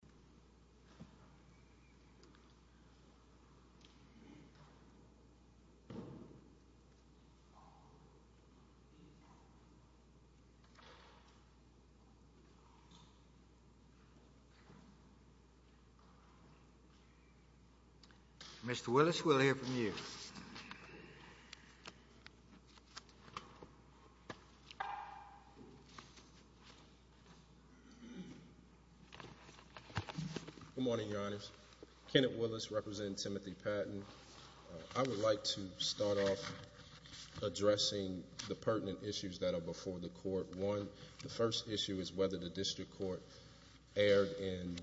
Jacobs Engineering Group, Inc, f Good morning, Your Honors. Kenneth Willis, representing Timothy Patton. I would like to start off addressing the pertinent issues that are before the court. One, the first issue is whether the district court erred in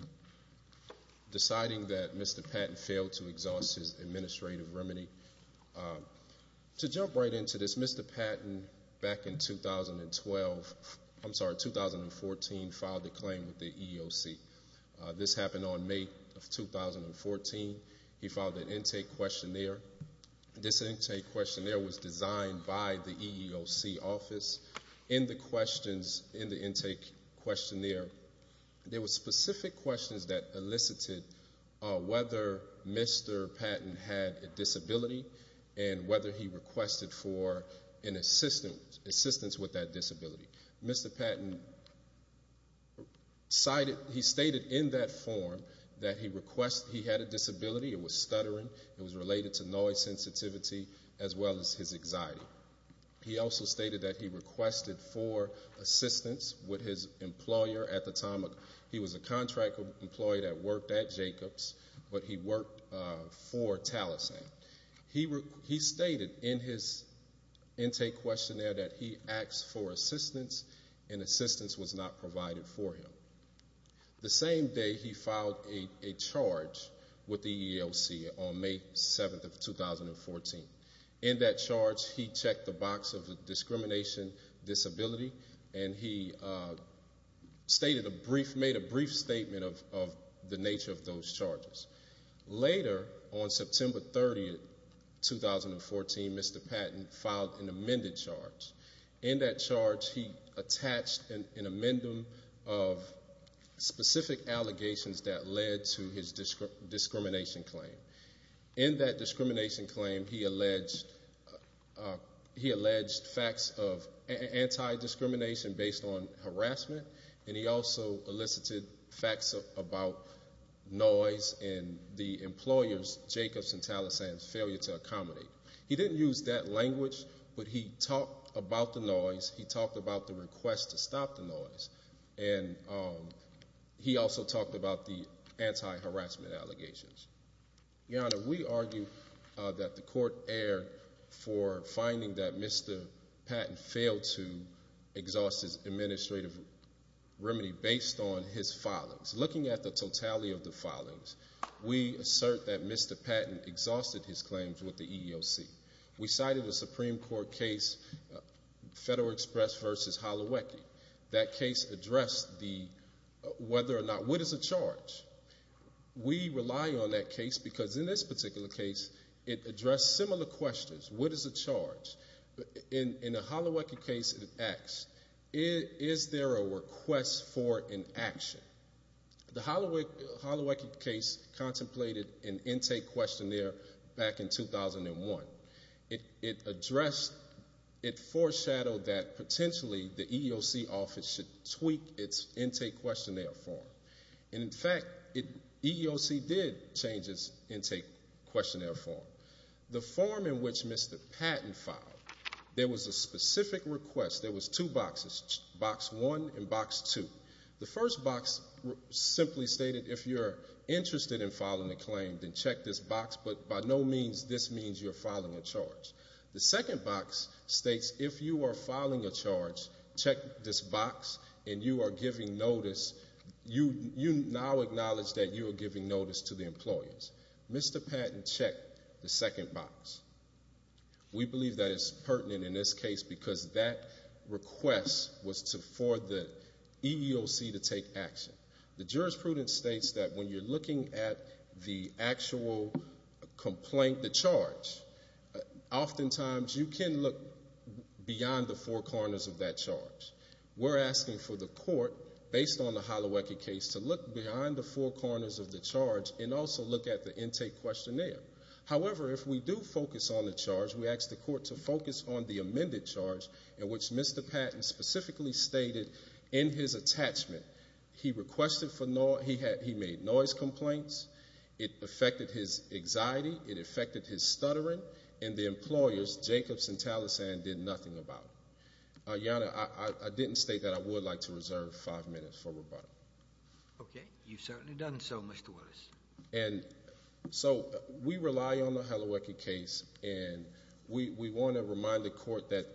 deciding that Mr. Patton failed to exhaust his administrative remedy. To jump right into this, Mr. Patton, back in 2012, I'm sorry, 2014, filed a claim with the EEOC. This happened on May of 2014. He filed an intake questionnaire. This intake questionnaire was designed by the EEOC office. In the questions, in the intake questionnaire, there were specific questions that elicited whether Mr. Patton had a disability and whether he requested for an assistance with that disability. Mr. Patton cited, he stated in that form that he requested, he had a disability. It was stuttering, it was related to noise sensitivity, as well as his anxiety. He also stated that he requested for assistance with his employer at the time. He was a contract employee that worked at Jacobs, but he worked for Taliesin. He stated in his intake questionnaire that he asked for assistance, and assistance was not provided for him. The same day, he filed a charge with the EEOC on May 7th of 2014. In that charge, he checked the box of discrimination disability, and he stated a brief, made a brief statement of the nature of those charges. Later, on September 30th, 2014, Mr. Patton filed an amended charge. In that charge, he attached an amendment of specific allegations that led to his discrimination claim. In that discrimination claim, he alleged facts of anti-discrimination based on harassment, and he also elicited facts about noise in the employer's, Jacobs and Taliesin's, failure to accommodate. He didn't use that language, but he talked about the noise, he talked about the request to stop the noise, and he also talked about the anti-harassment allegations. Your Honor, we argue that the court erred for finding that Mr. Patton failed to exhaust his administrative remedy based on his filings. Looking at the totality of the filings, we assert that Mr. Patton exhausted his claims with the EEOC. We cited a Supreme Court case, Federal Express versus Holowecki. That case addressed the, whether or not, what is a charge? We rely on that case because in this particular case, it addressed similar questions. What is a charge? In the Holowecki case, it asks, is there a request for an action? The Holowecki case contemplated an intake questionnaire back in 2001. It addressed, it foreshadowed that potentially the EEOC office should tweak its intake questionnaire form. And in fact, EEOC did change its intake questionnaire form. The form in which Mr. Patton filed, there was a specific request, there was two boxes, box one and box two. The first box simply stated, if you're interested in filing a claim, then check this box, but by no means, this means you're filing a charge. The second box states, if you are filing a charge, check this box and you are giving notice, you now acknowledge that you are giving notice to the employers. Mr. Patton checked the second box. We believe that it's pertinent in this case because that request was for the EEOC to take action. The jurisprudence states that when you're looking at the actual complaint, the charge, oftentimes you can look beyond the four corners of that charge. We're asking for the court, based on the Holowecki case, to look behind the four corners of the charge and also look at the intake questionnaire. However, if we do focus on the charge, we ask the court to focus on the amended charge in which Mr. Patton specifically stated in his attachment, he made noise complaints, it affected his anxiety, it affected his stuttering, and the employers, Jacobs and Taliesin, did nothing about it. Your Honor, I didn't state that I would like to reserve five minutes for rebuttal. Okay, you've certainly done so, Mr. Willis. And so, we rely on the Holowecki case and we want to remind the court that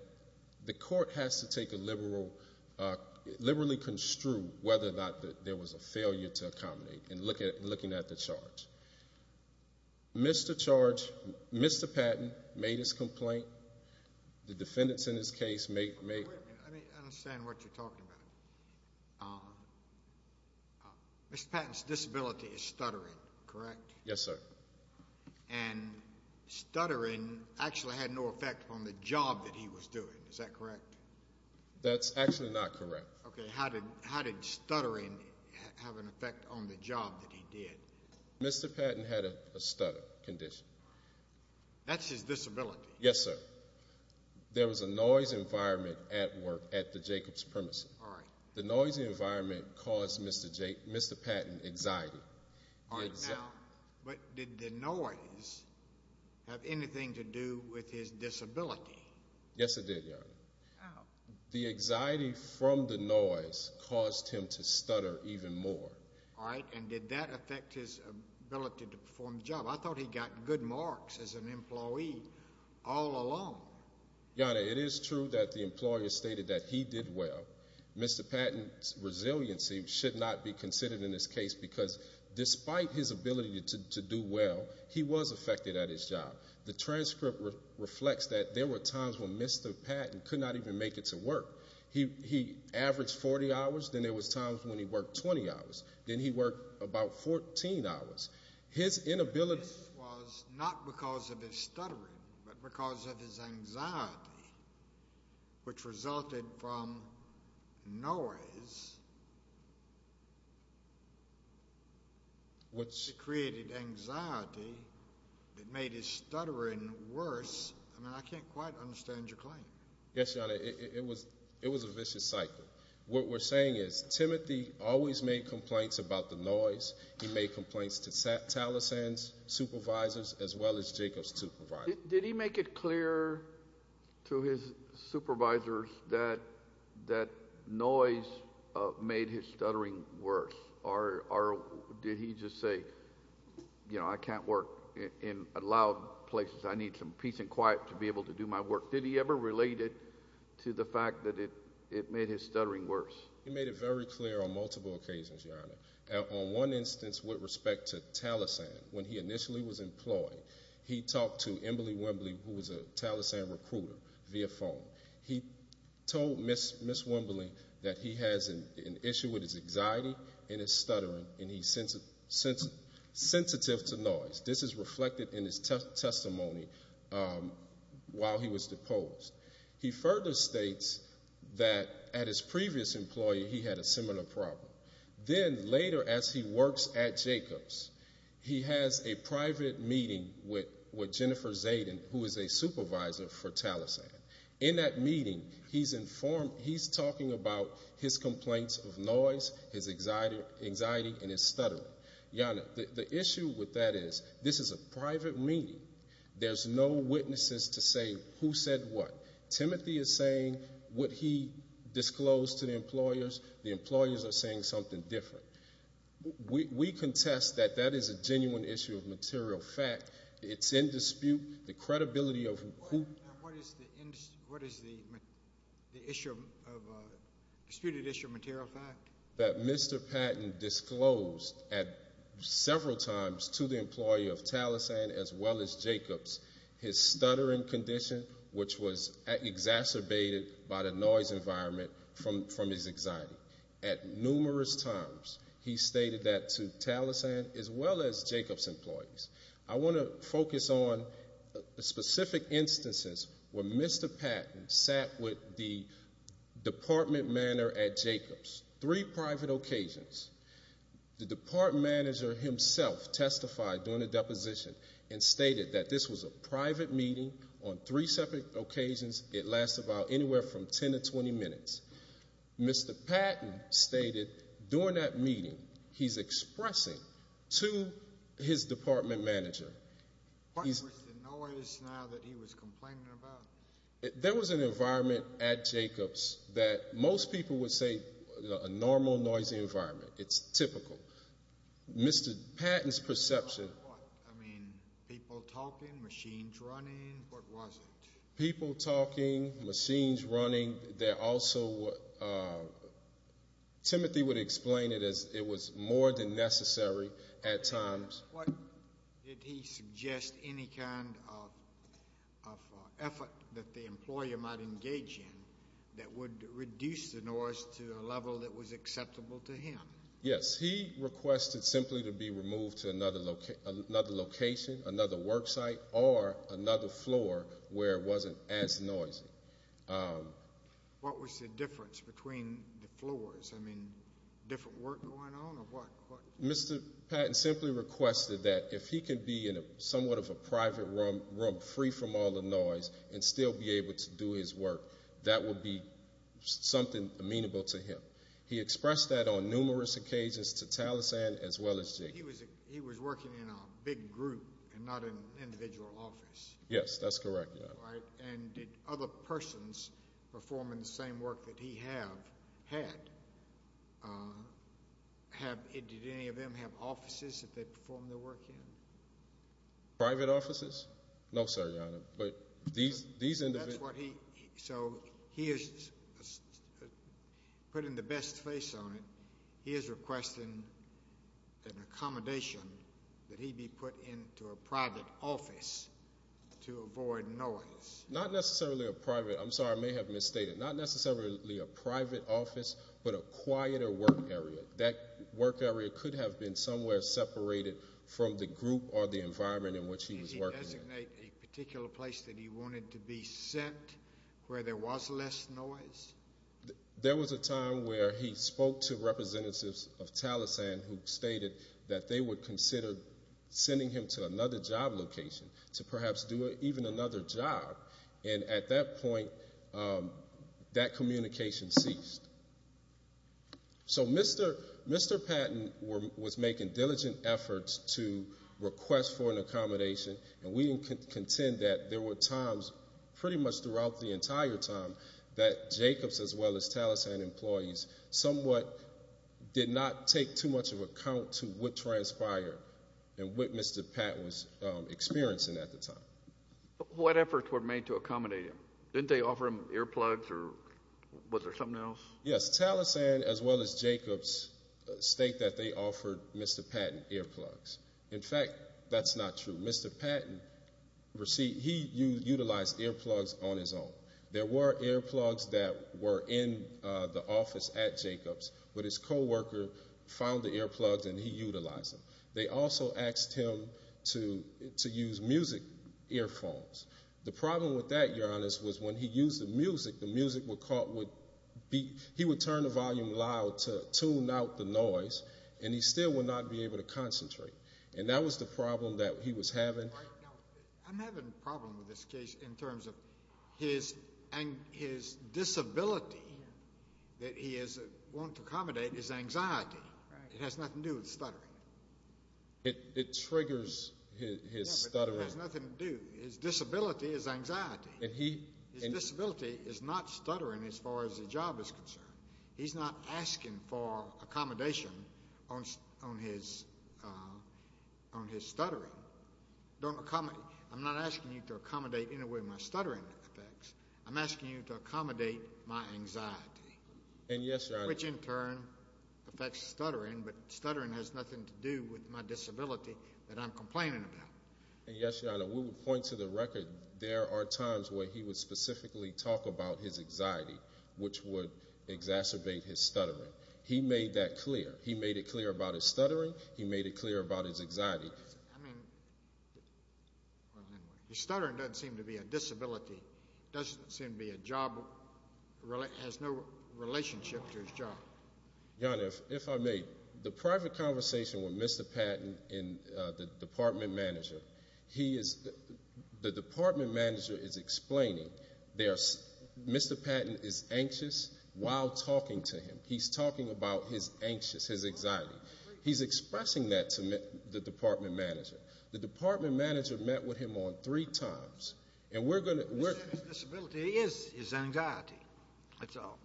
the court has to take a liberal, liberally construe whether or not there was a failure to accommodate in looking at the charge. Mr. Charge, Mr. Patton made his complaint. The defendants in this case made. I understand what you're talking about. Mr. Patton's disability is stuttering, correct? Yes, sir. And stuttering actually had no effect on the job that he was doing, is that correct? That's actually not correct. Okay, how did stuttering have an effect on the job that he did? Mr. Patton had a stutter condition. That's his disability? Yes, sir. There was a noise environment at work at the Jacobs premises. The noisy environment caused Mr. Patton anxiety. All right, now, but did the noise have anything to do with his disability? Yes, it did, Your Honor. The anxiety from the noise caused him to stutter even more. All right, and did that affect his ability to perform the job? I thought he got good marks as an employee all along. Your Honor, it is true that the employer stated that he did well. Mr. Patton's resiliency should not be considered in this case because despite his ability to do well, he was affected at his job. The transcript reflects that there were times when Mr. Patton could not even make it to work. He averaged 40 hours, then there was times when he worked 20 hours. Then he worked about 14 hours. His inability was not because of his stuttering, but because of his anxiety, which resulted from noise, which created anxiety that made his stuttering worse. I mean, I can't quite understand your claim. Yes, Your Honor, it was a vicious cycle. What we're saying is Timothy always made complaints about the noise. He made complaints to Taliesin's supervisors as well as Jacob's supervisor. Did he make it clear to his supervisors that that noise made his stuttering worse? Or did he just say, you know, I can't work in loud places. I need some peace and quiet to be able to do my work. Did he ever relate it to the fact that it made his stuttering worse? He made it very clear on multiple occasions, Your Honor. On one instance, with respect to Taliesin, when he initially was employed, he talked to Emberly Wembley, who was a Taliesin recruiter via phone. He told Ms. Wembley that he has an issue with his anxiety and his stuttering, and he's sensitive to noise. This is reflected in his testimony while he was deposed. He further states that at his previous employee, he had a similar problem. Then later, as he works at Jacob's, he has a private meeting with Jennifer Zaden, who is a supervisor for Taliesin. In that meeting, he's informed, he's talking about his complaints of noise, his anxiety, and his stuttering. Your Honor, the issue with that is, this is a private meeting. There's no witnesses to say who said what. Timothy is saying what he disclosed to the employers. The employers are saying something different. We contest that that is a genuine issue of material fact. It's in dispute. The credibility of who- What is the disputed issue of material fact? That Mr. Patton disclosed several times to the employee of Taliesin as well as Jacob's his stuttering condition, which was exacerbated by the noise environment from his anxiety. At numerous times, he stated that to Taliesin as well as Jacob's employees. I want to focus on specific instances where Mr. Patton sat with the department manager at Jacob's, three private occasions. The department manager himself testified during the deposition and stated that this was a private meeting on three separate occasions. It lasts about anywhere from 10 to 20 minutes. Mr. Patton stated during that meeting, he's expressing to his department manager. What was the noise now that he was complaining about? There was an environment at Jacob's that most people would say a normal noisy environment. It's typical. Mr. Patton's perception- I mean, people talking, machines running, what was it? People talking, machines running. There also, Timothy would explain it as it was more than necessary at times. What did he suggest any kind of effort that the employer might engage in that would reduce the noise to a level that was acceptable to him? Yes, he requested simply to be removed to another location, another work site, or another floor where it wasn't as noisy. What was the difference between the floors? I mean, different work going on or what? Mr. Patton simply requested that if he could be in somewhat of a private room free from all the noise and still be able to do his work, that would be something amenable to him. He expressed that on numerous occasions to Taliesin as well as Jacob. He was working in a big group and not an individual office. Yes, that's correct, Your Honor. And did other persons perform in the same work that he have had? Did any of them have offices that they performed their work in? Private offices? No, sir, Your Honor, but these individuals. So he is putting the best face on it. He is requesting an accommodation that he be put into a private office to avoid noise. Not necessarily a private. I'm sorry, I may have misstated. Not necessarily a private office, but a quieter work area. That work area could have been somewhere separated from the group or the environment in which he was working in. Did he designate a particular place that he wanted to be sent where there was less noise? There was a time where he spoke to representatives of Taliesin who stated that they would consider sending him to another job location to perhaps do even another job. And at that point, that communication ceased. So Mr. Patton was making diligent efforts to request for an accommodation, and we can contend that there were times pretty much throughout the entire time that Jacobs as well as Taliesin employees somewhat did not take too much of account to what transpired and what Mr. Patton was experiencing at the time. What efforts were made to accommodate him? Didn't they offer him earplugs or was there something else? Yes, Taliesin as well as Jacobs state that they offered Mr. Patton earplugs. In fact, that's not true. Mr. Patton, he utilized earplugs on his own. There were earplugs that were in the office at Jacobs, but his coworker found the earplugs and he utilized them. They also asked him to use music earphones. The problem with that, Your Honor, was when he used the music, the music would be, he would turn the volume loud to tune out the noise, and he still would not be able to concentrate. And that was the problem that he was having. I'm having a problem with this case in terms of his disability that he is wanting to accommodate is anxiety. It has nothing to do with stuttering. It triggers his stuttering. It has nothing to do, his disability is anxiety. His disability is not stuttering as far as the job is concerned. He's not asking for accommodation on his stuttering. I'm not asking you to accommodate in a way my stuttering affects. I'm asking you to accommodate my anxiety. And yes, Your Honor. Which in turn affects stuttering, but stuttering has nothing to do with my disability that I'm complaining about. And yes, Your Honor, we would point to the record. There are times where he would specifically talk about his anxiety, which would exacerbate his stuttering. He made that clear. He made it clear about his stuttering. He made it clear about his anxiety. I mean, his stuttering doesn't seem to be a disability. Doesn't seem to be a job, has no relationship to his job. Your Honor, if I may, the private conversation with Mr. Patton and the department manager, he is, the department manager is explaining there's, Mr. Patton is anxious while talking to him. He's talking about his anxious, his anxiety. He's expressing that to the department manager. The department manager met with him on three times. And we're gonna- His disability is his anxiety. That's all.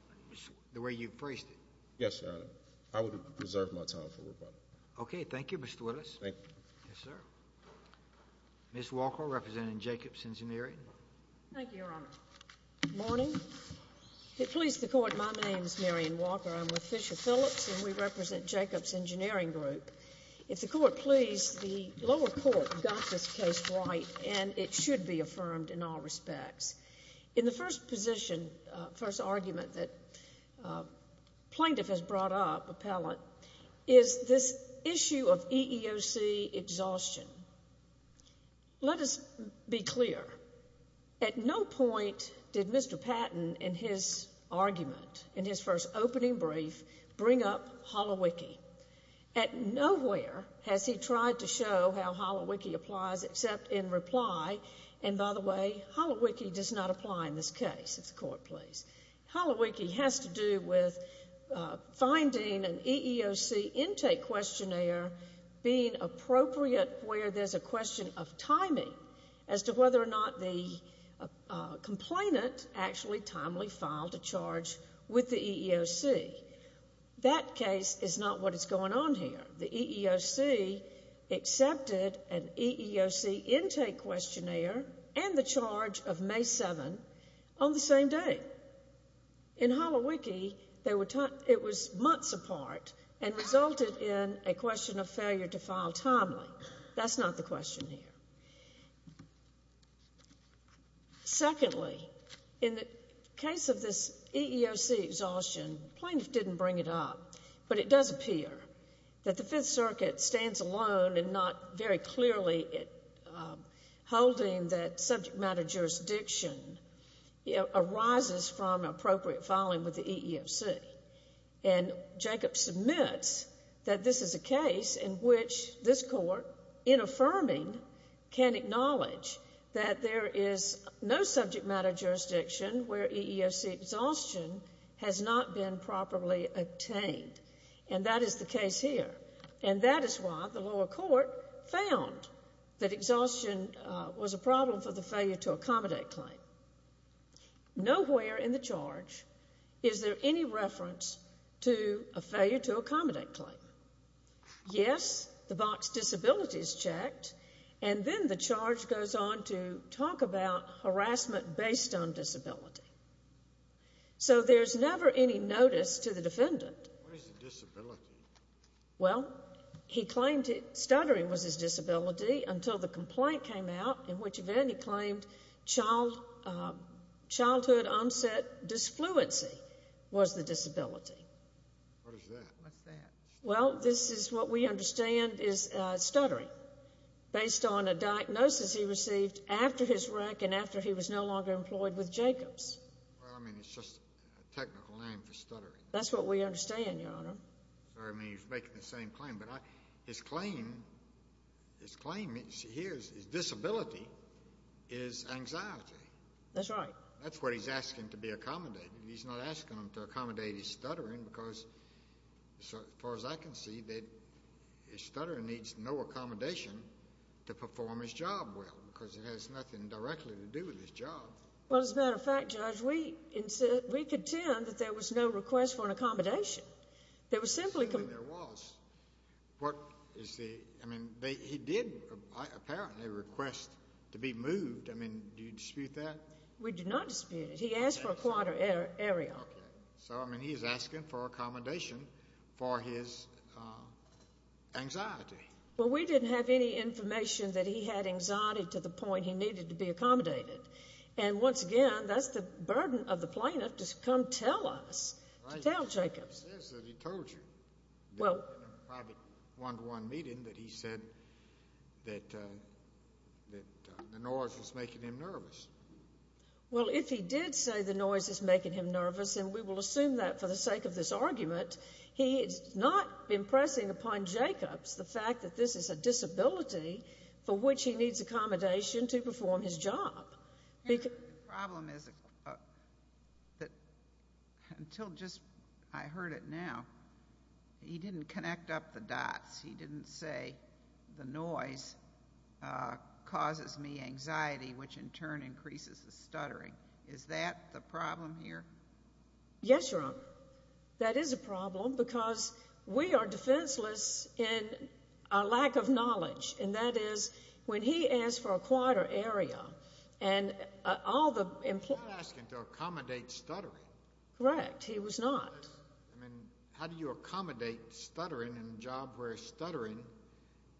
The way you phrased it. Yes, Your Honor. I would reserve my time for rebuttal. Okay, thank you, Mr. Willis. Thank you. Yes, sir. Ms. Walker, representing Jacobs Engineering. Thank you, Your Honor. Good morning. If it please the court, my name's Marion Walker. I'm with Fisher Phillips, and we represent Jacobs Engineering Group. If the court please, the lower court got this case right, and it should be affirmed in all respects. In the first position, first argument that plaintiff has brought up, appellant, is this issue of EEOC exhaustion. Let us be clear. At no point did Mr. Patton in his argument, in his first opening brief, bring up Holowicki. At nowhere has he tried to show how Holowicki applies except in reply, and by the way, Holowicki does not apply in this case, if the court please. Holowicki has to do with finding an EEOC intake questionnaire being appropriate where there's a question of timing as to whether or not the complainant actually timely filed a charge with the EEOC. That case is not what is going on here. The EEOC accepted an EEOC intake questionnaire and the charge of May 7 on the same day. In Holowicki, it was months apart and resulted in a question of failure to file timely. That's not the question here. Secondly, in the case of this EEOC exhaustion, plaintiff didn't bring it up, but it does appear that the Fifth Circuit stands alone and not very clearly holding that subject matter jurisdiction arises from appropriate filing with the EEOC. And Jacob submits that this is a case in which this court, in affirming, can acknowledge that there is no subject matter jurisdiction where EEOC exhaustion has not been properly obtained. And that is the case here. And that is why the lower court found that exhaustion was a problem for the failure to accommodate claim. Nowhere in the charge is there any reference to a failure to accommodate claim. Yes, the box disability is checked, and then the charge goes on to talk about harassment based on disability. So there's never any notice to the defendant. What is a disability? Well, he claimed stuttering was his disability until the complaint came out, in which event he claimed childhood onset disfluency was the disability. What is that? What's that? Well, this is what we understand is stuttering based on a diagnosis he received after his wreck and after he was no longer employed with Jacob's. Well, I mean, it's just a technical name for stuttering. That's what we understand, Your Honor. Sorry, I mean, he's making the same claim, but his claim, his claim here is his disability is anxiety. That's right. That's what he's asking to be accommodated. He's not asking him to accommodate his stuttering because, as far as I can see, that his stuttering needs no accommodation to perform his job well, because it has nothing directly to do with his job. Well, as a matter of fact, Judge, we contend that there was no request for an accommodation. There was simply- There was. What is the, I mean, he did apparently request to be moved. I mean, do you dispute that? We do not dispute it. He asked for a quarter area. So, I mean, he is asking for accommodation for his anxiety. Well, we didn't have any information that he had anxiety to the point he needed to be accommodated. And once again, that's the burden of the plaintiff to come tell us, to tell Jacobs. He says that he told you. Well- In a private one-to-one meeting, that he said that the noise was making him nervous. Well, if he did say the noise is making him nervous, and we will assume that for the sake of this argument, he is not impressing upon Jacobs the fact that this is a disability for which he needs accommodation to perform his job. The problem is that until just, I heard it now, he didn't connect up the dots. He didn't say the noise causes me anxiety, which in turn increases the stuttering. Is that the problem here? Yes, Your Honor. That is a problem because we are defenseless in our lack of knowledge. And that is, when he asked for a quieter area, and all the employees- He's not asking to accommodate stuttering. Correct, he was not. I mean, how do you accommodate stuttering in a job where stuttering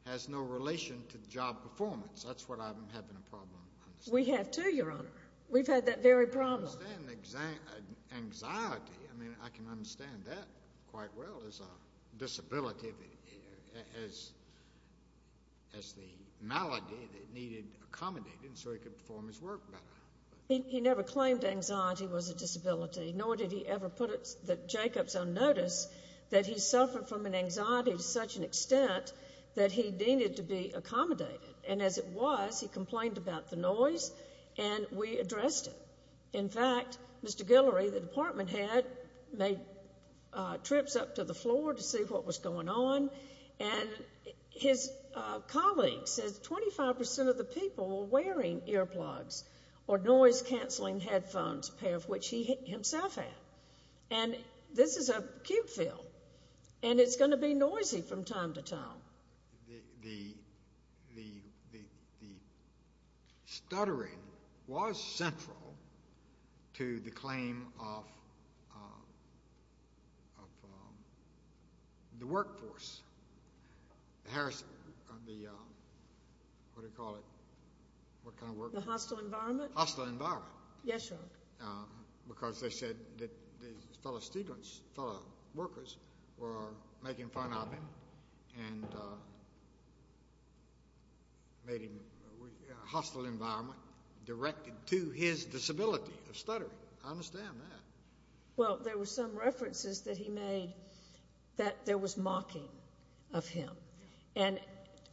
has no relation to job performance? That's what I'm having a problem understanding. We have too, Your Honor. We've had that very problem. I understand anxiety. I mean, I can understand that quite well as a disability, as the malady that needed accommodating so he could perform his work better. He never claimed anxiety was a disability, nor did he ever put Jacobs on notice that he suffered from an anxiety to such an extent that he needed to be accommodated. And as it was, he complained about the noise, and we addressed it. In fact, Mr. Guillory, the department head, made trips up to the floor to see what was going on, and his colleagues said 25% of the people were wearing earplugs or noise-canceling headphones, a pair of which he himself had. And this is a cube film, and it's gonna be noisy from time to time. The stuttering was central to the claim of the workforce. Harris, the, what do you call it? What kind of work? The hostile environment? Hostile environment. Yes, Your Honor. Because they said that his fellow students, fellow workers were making fun of him and made him, hostile environment directed to his disability of stuttering. I understand that. Well, there were some references that he made that there was mocking of him. And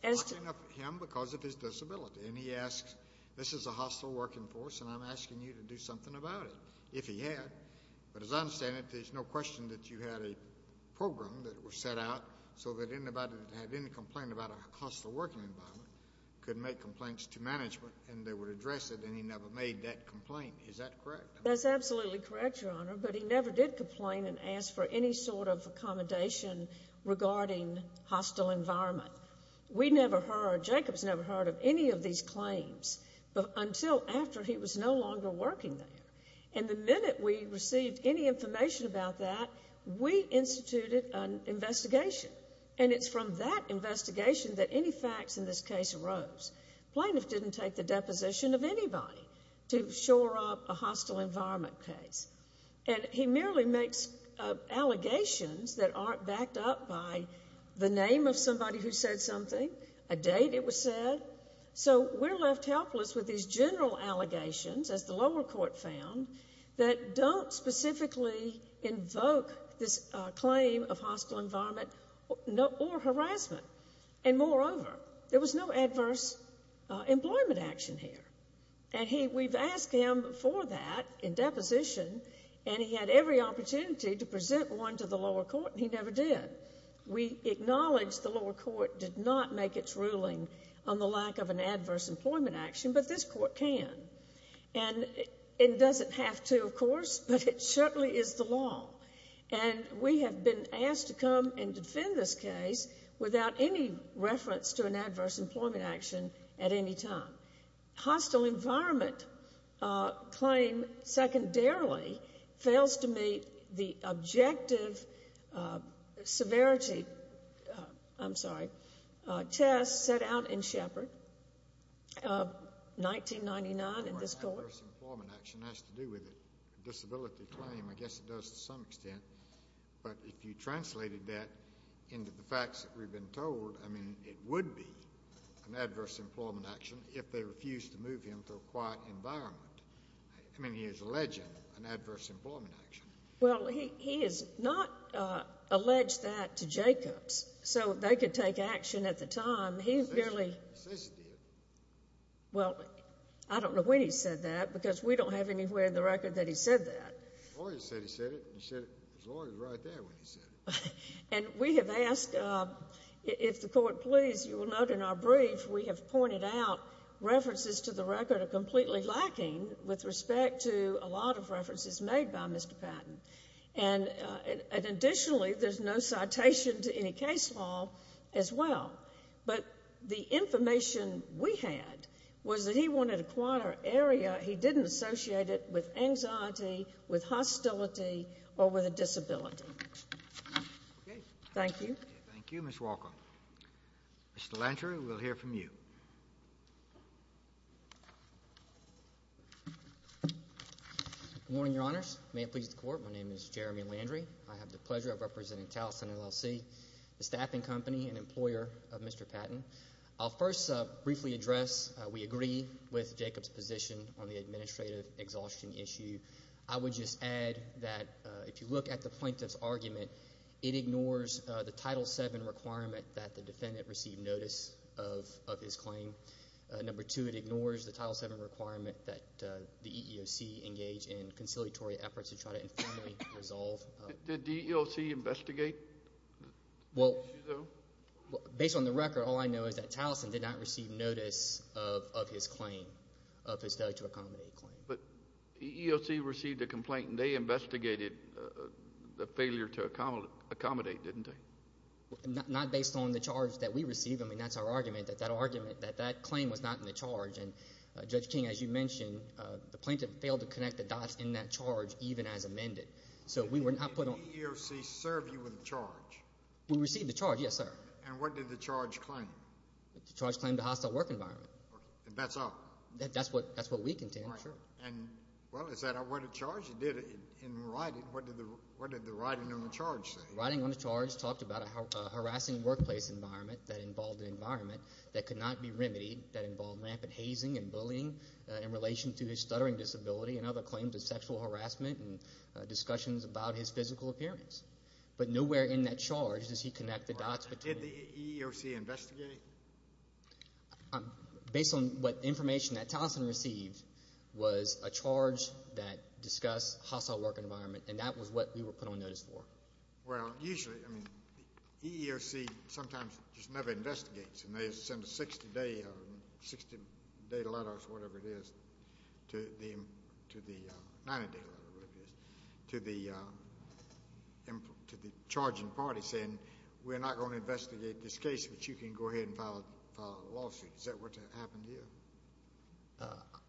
as to... Mocking of him because of his disability. And he asked, this is a hostile working force, and I'm asking you to do something about it, if he had. But as I understand it, there's no question that you had a program that was set out so that anybody that had any complaint about a hostile working environment could make complaints to management, and they would address it, and he never made that complaint. Is that correct? That's absolutely correct, Your Honor, but he never did complain and ask for any sort of accommodation regarding hostile environment. We never heard, Jacob's never heard of any of these claims, but until after he was no longer working there. And the minute we received any information about that, we instituted an investigation. And it's from that investigation that any facts in this case arose. Plaintiff didn't take the deposition of anybody to shore up a hostile environment case. And he merely makes allegations that aren't backed up by the name of somebody who said something, a date it was said. So we're left helpless with these general allegations, as the lower court found, that don't specifically invoke this claim of hostile environment or harassment. And moreover, there was no adverse employment action here. And we've asked him for that in deposition, and he had every opportunity to present one to the lower court, and he never did. We acknowledge the lower court did not make its ruling on the lack of an adverse employment action, but this court can. And it doesn't have to, of course, but it certainly is the law. And we have been asked to come and defend this case without any reference to an adverse employment action at any time. Hostile environment claim, secondarily, fails to meet the objective severity, I'm sorry, test set out in Shepard, 1999 in this court. An adverse employment action has to do with it. Disability claim, I guess it does to some extent. But if you translated that into the facts that we've been told, I mean, it would be an adverse employment action if they refused to move him to a quiet environment. I mean, he is alleging an adverse employment action. Well, he has not alleged that to Jacobs, so they could take action at the time. He barely- He says he did. Well, I don't know when he said that, because we don't have anywhere in the record that he said that. Lawyer said he said it, and he said it, his lawyer was right there when he said it. And we have asked, if the court please, you will note in our brief, we have pointed out references to the record are completely lacking with respect to a lot of references made by Mr. Patton. And additionally, there's no citation to any case law as well. But the information we had was that he wanted a quieter area. He didn't associate it with anxiety, with hostility, or with a disability. Thank you. Thank you, Ms. Walker. Mr. Landry, we'll hear from you. Good morning, your honors. May it please the court, my name is Jeremy Landry. I have the pleasure of representing Towson LLC, the staffing company and employer of Mr. Patton. I'll first briefly address, we agree with Jacob's position on the administrative exhaustion issue. I would just add that if you look at the plaintiff's argument, it ignores the Title VII requirement that the defendant receive notice of his claim. Number two, it ignores the Title VII requirement that the EEOC engage in conciliatory efforts to try to informally resolve. Did the EEOC investigate the issue, though? Based on the record, all I know is that Towson did not receive notice of his claim, of his failure to accommodate claim. But EEOC received a complaint, and they investigated the failure to accommodate, didn't they? Not based on the charge that we received. I mean, that's our argument, that that argument, that that claim was not in the charge. And Judge King, as you mentioned, the plaintiff failed to connect the dots in that charge, even as amended. So we were not put on- Did the EEOC serve you with the charge? We received the charge, yes, sir. And what did the charge claim? The charge claimed a hostile work environment. And that's all? That's what we contend, sir. And, well, is that what the charge did in writing? What did the writing on the charge say? Writing on the charge talked about a harassing workplace environment that involved an environment that could not be remedied, that involved rampant hazing and bullying in relation to his stuttering disability and other claims of sexual harassment and discussions about his physical appearance. But nowhere in that charge does he connect the dots- Did the EEOC investigate? Based on what information that Towson received was a charge that discussed hostile work environment. And that was what we were put on notice for. Well, usually, I mean, the EEOC sometimes just never investigates. And they send a 60-day, 60-day letter or whatever it is, to the, 90-day letter, whatever it is, to the charging party saying, we're not going to investigate this case, but you can go ahead and file a lawsuit. Is that what happened here?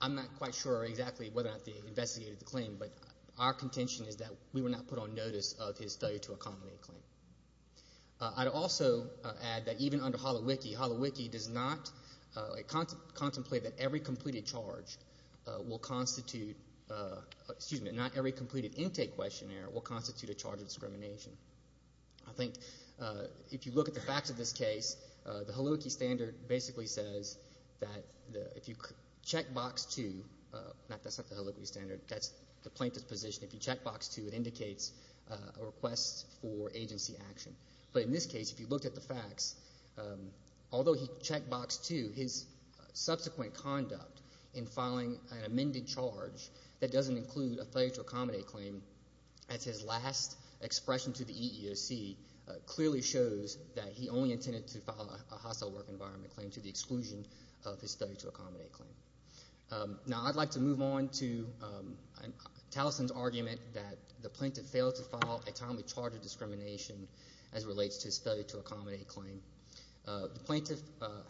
I'm not quite sure exactly whether or not they investigated the claim, but our contention is that we were not put on notice of his failure to accommodate a claim. I'd also add that even under Holowiki, Holowiki does not contemplate that every completed charge will constitute, excuse me, not every completed intake questionnaire will constitute a charge of discrimination. I think if you look at the facts of this case, the Holowiki standard basically says that if you check box two, that's not the Holowiki standard, that's the plaintiff's position. If you check box two, it indicates a request for agency action. But in this case, if you looked at the facts, although he checked box two, his subsequent conduct in filing an amended charge that doesn't include a failure to accommodate claim as his last expression to the EEOC clearly shows that he only intended to file a hostile work environment claim to the exclusion of his failure to accommodate claim. Now I'd like to move on to Taliesin's argument that the plaintiff failed to file a timely charge of discrimination as it relates to his failure to accommodate claim. The plaintiff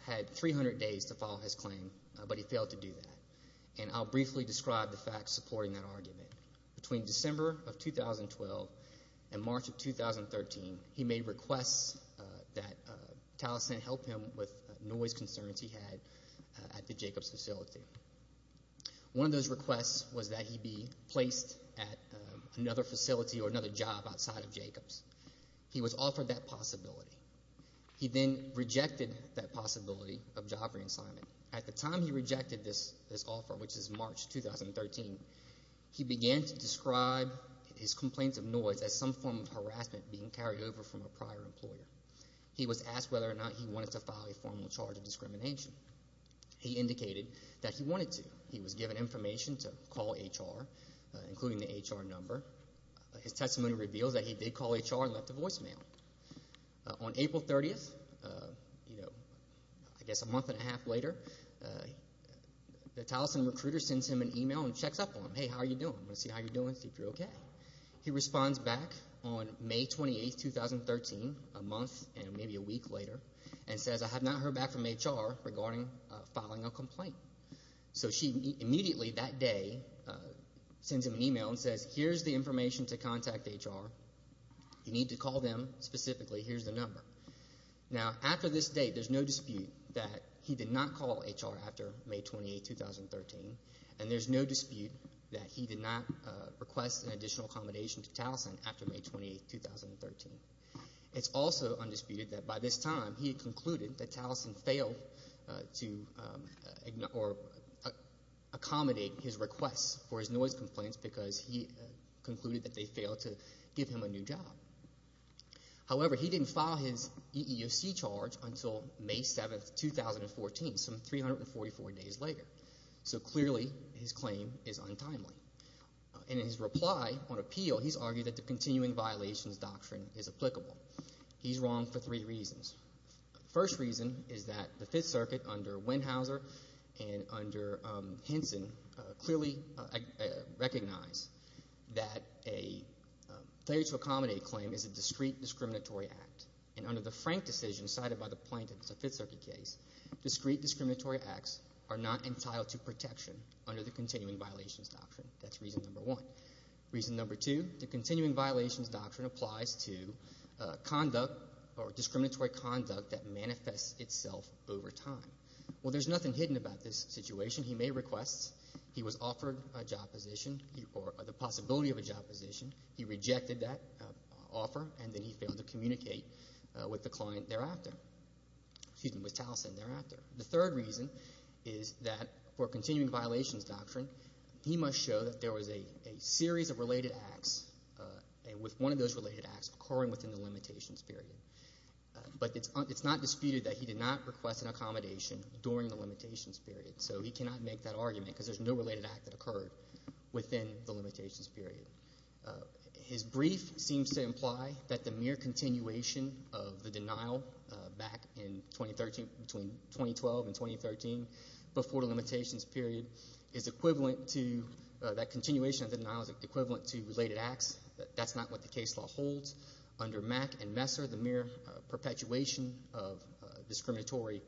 had 300 days to file his claim, but he failed to do that. And I'll briefly describe the facts supporting that argument. Between December of 2012 and March of 2013, he made requests that Taliesin help him with noise concerns he had at the Jacobs facility. One of those requests was that he be placed at another facility or another job outside of Jacobs. He was offered that possibility. He then rejected that possibility of job re-assignment. At the time he rejected this offer, which is March 2013, he began to describe his complaints of noise as some form of harassment being carried over from a prior employer. He was asked whether or not he wanted to file a formal charge of discrimination. He indicated that he wanted to. He was given information to call HR, including the HR number. His testimony revealed that he did call HR and left a voicemail. On April 30th, I guess a month and a half later, the Taliesin recruiter sends him an email and checks up on him. Hey, how are you doing? I wanna see how you're doing, see if you're okay. He responds back on May 28th, 2013, a month and maybe a week later, and says, I have not heard back from HR regarding filing a complaint. So she immediately, that day, sends him an email and says, here's the information to contact HR. You need to call them specifically. Here's the number. Now, after this date, there's no dispute that he did not call HR after May 28th, 2013, and there's no dispute that he did not request an additional accommodation to Taliesin after May 28th, 2013. It's also undisputed that by this time, he had concluded that Taliesin failed to accommodate his requests for his noise complaints because he concluded that they failed to give him a new job. However, he didn't file his EEOC charge until May 7th, 2014, some 344 days later. So clearly, his claim is untimely. And in his reply on appeal, he's argued that the continuing violations doctrine is applicable. He's wrong for three reasons. First reason is that the Fifth Circuit, under Wenhauser and under Henson, clearly recognize that a failure to accommodate claim is a discrete discriminatory act. And under the Frank decision cited by the plaintiff in the Fifth Circuit case, discrete discriminatory acts are not entitled to protection under the continuing violations doctrine. That's reason number one. Reason number two, the continuing violations doctrine applies to conduct or discriminatory conduct that manifests itself over time. Well, there's nothing hidden about this situation. He made requests. He was offered a job position or the possibility of a job position. He rejected that offer, and then he failed to communicate with the client thereafter, excuse me, with Taliesin thereafter. The third reason is that for continuing violations doctrine, he must show that there was a series of related acts. And with one of those related acts occurring within the limitations period. But it's not disputed that he did not request an accommodation during the limitations period. So he cannot make that argument because there's no related act that occurred within the limitations period. His brief seems to imply that the mere continuation of the denial back in 2013, between 2012 and 2013, before the limitations period is equivalent to, that continuation of denial is equivalent to related acts. That's not what the case law holds. Under Mack and Messer, the mere perpetuation of discriminatory,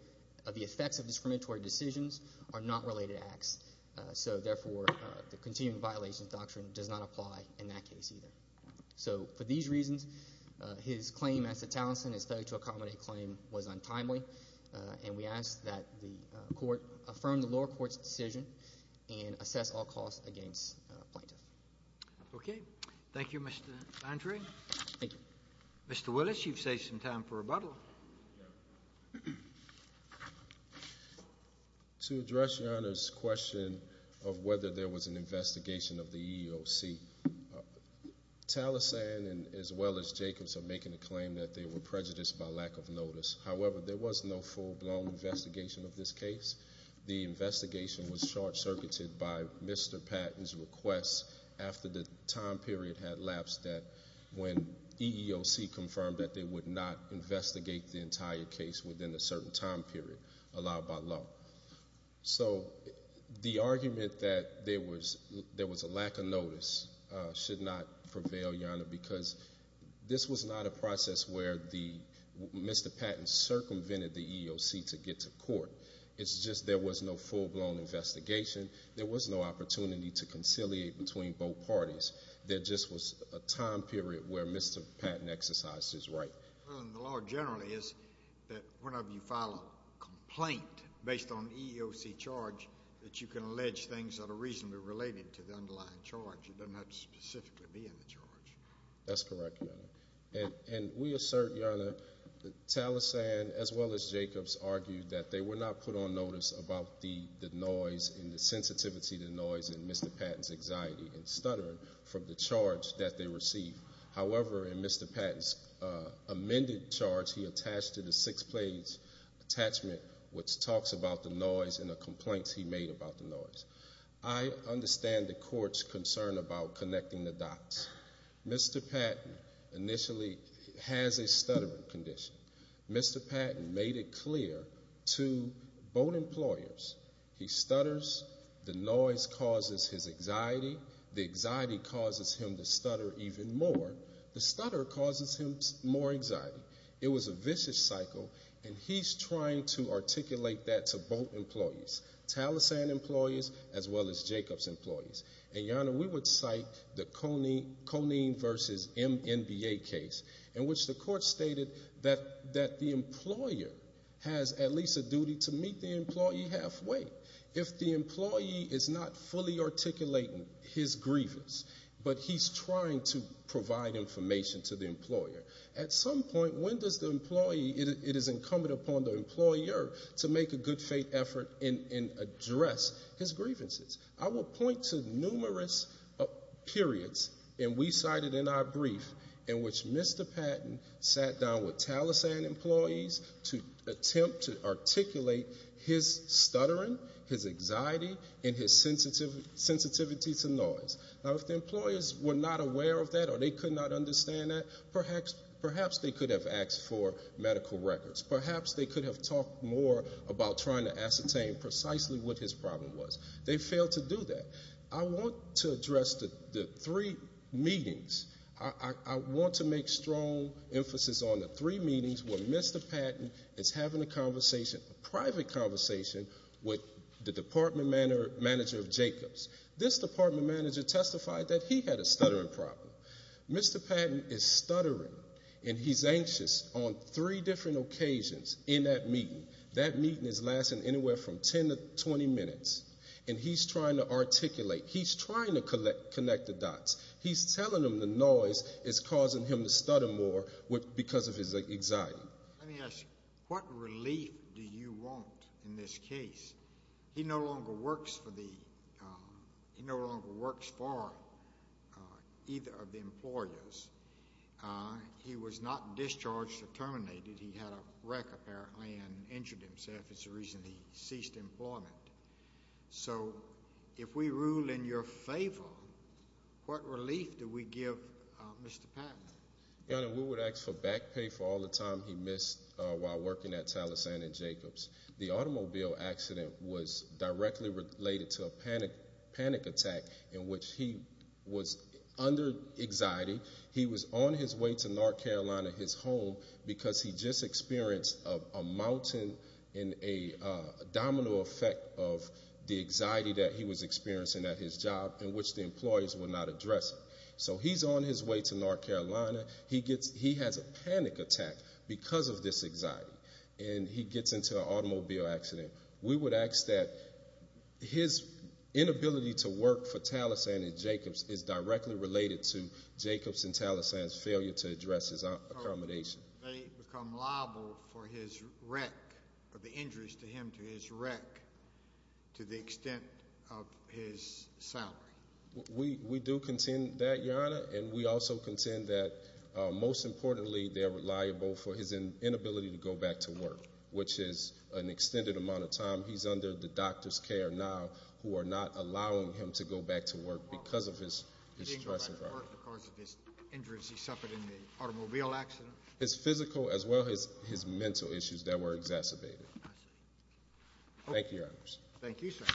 of the effects of discriminatory decisions are not related acts. So therefore, the continuing violations doctrine does not apply in that case either. So for these reasons, his claim as to Taliesin's failure to accommodate claim was untimely. And we ask that the court affirm the lower court's decision and assess all costs against plaintiff. Okay. Thank you, Mr. Landry. Thank you. Mr. Willis, you've saved some time for rebuttal. To address Your Honor's question of whether there was an investigation of the EEOC, Taliesin and as well as Jacobs are making a claim that they were prejudiced by lack of notice. However, there was no full blown investigation of this case. The investigation was short circuited by Mr. Patton's requests after the time period had lapsed that when EEOC confirmed that they would not investigate the entire case within a certain time period allowed by law. So the argument that there was a lack of notice should not prevail, Your Honor, because this was not a process where Mr. Patton circumvented the EEOC to get to court. It's just there was no full blown investigation. There was no opportunity to conciliate between both parties. There just was a time period where Mr. Patton exercised his right. The law generally is that whenever you file a complaint based on EEOC charge that you can allege things that are reasonably related to the underlying charge. It does not specifically be in the charge. That's correct, Your Honor. And we assert, Your Honor, that Taliesin as well as Jacobs argued that they were not put on notice about the noise and the sensitivity to noise in Mr. Patton's anxiety and stuttering from the charge that they received. However, in Mr. Patton's amended charge, he attached to the six page attachment which talks about the noise and the complaints he made about the noise. I understand the court's concern about connecting the dots. Mr. Patton initially has a stuttering condition. Mr. Patton made it clear to both employers, he stutters, the noise causes his anxiety, the anxiety causes him to stutter even more. The stutter causes him more anxiety. It was a vicious cycle and he's trying to articulate that to both employees, Taliesin employees as well as Jacobs employees. And Your Honor, we would cite the Conene versus MNBA case in which the court stated that the employer has at least a duty to meet the employee halfway. If the employee is not fully articulating his grievance but he's trying to provide information to the employer, at some point, when does the employee, it is incumbent upon the employer to make a good faith effort and address his grievances. I will point to numerous periods and we cited in our brief in which Mr. Patton sat down with Taliesin employees to attempt to articulate his stuttering, his anxiety and his sensitivity to noise. Now, if the employers were not aware of that or they could not understand that, perhaps they could have asked for medical records. Perhaps they could have talked more about trying to ascertain precisely what his problem was. They failed to do that. I want to address the three meetings. I want to make strong emphasis on the three meetings where Mr. Patton is having a conversation, a private conversation with the department manager of Jacobs. This department manager testified that he had a stuttering problem. Mr. Patton is stuttering and he's anxious on three different occasions in that meeting. That meeting is lasting anywhere from 10 to 20 minutes. And he's trying to articulate, he's trying to connect the dots. He's telling them the noise is causing him to stutter more because of his anxiety. Let me ask you, what relief do you want in this case? He no longer works for either of the employers. He was not discharged or terminated. He had a wreck apparently and injured himself. If it's a reason, he ceased employment. So if we rule in your favor, what relief do we give Mr. Patton? Your Honor, we would ask for back pay for all the time he missed while working at Taliesin and Jacobs. The automobile accident was directly related to a panic attack in which he was under anxiety. He was on his way to North Carolina, his home, because he just experienced a mountain and a domino effect of the anxiety that he was experiencing at his job in which the employers were not addressing. So he's on his way to North Carolina. He has a panic attack because of this anxiety. And he gets into an automobile accident. We would ask that his inability to work for Taliesin and Jacobs is directly related to Jacobs and Taliesin's failure to address his accommodation. They become liable for his wreck, for the injuries to him, to his wreck, to the extent of his salary. We do contend that, Your Honor. And we also contend that most importantly, they are liable for his inability to go back to work, which is an extended amount of time. He's under the doctor's care now who are not allowing him to go back to work because of his stress environment. Because of his injuries, he suffered in the automobile accident. His physical as well as his mental issues that were exacerbated. I see. Thank you, Your Honors. Thank you, sir.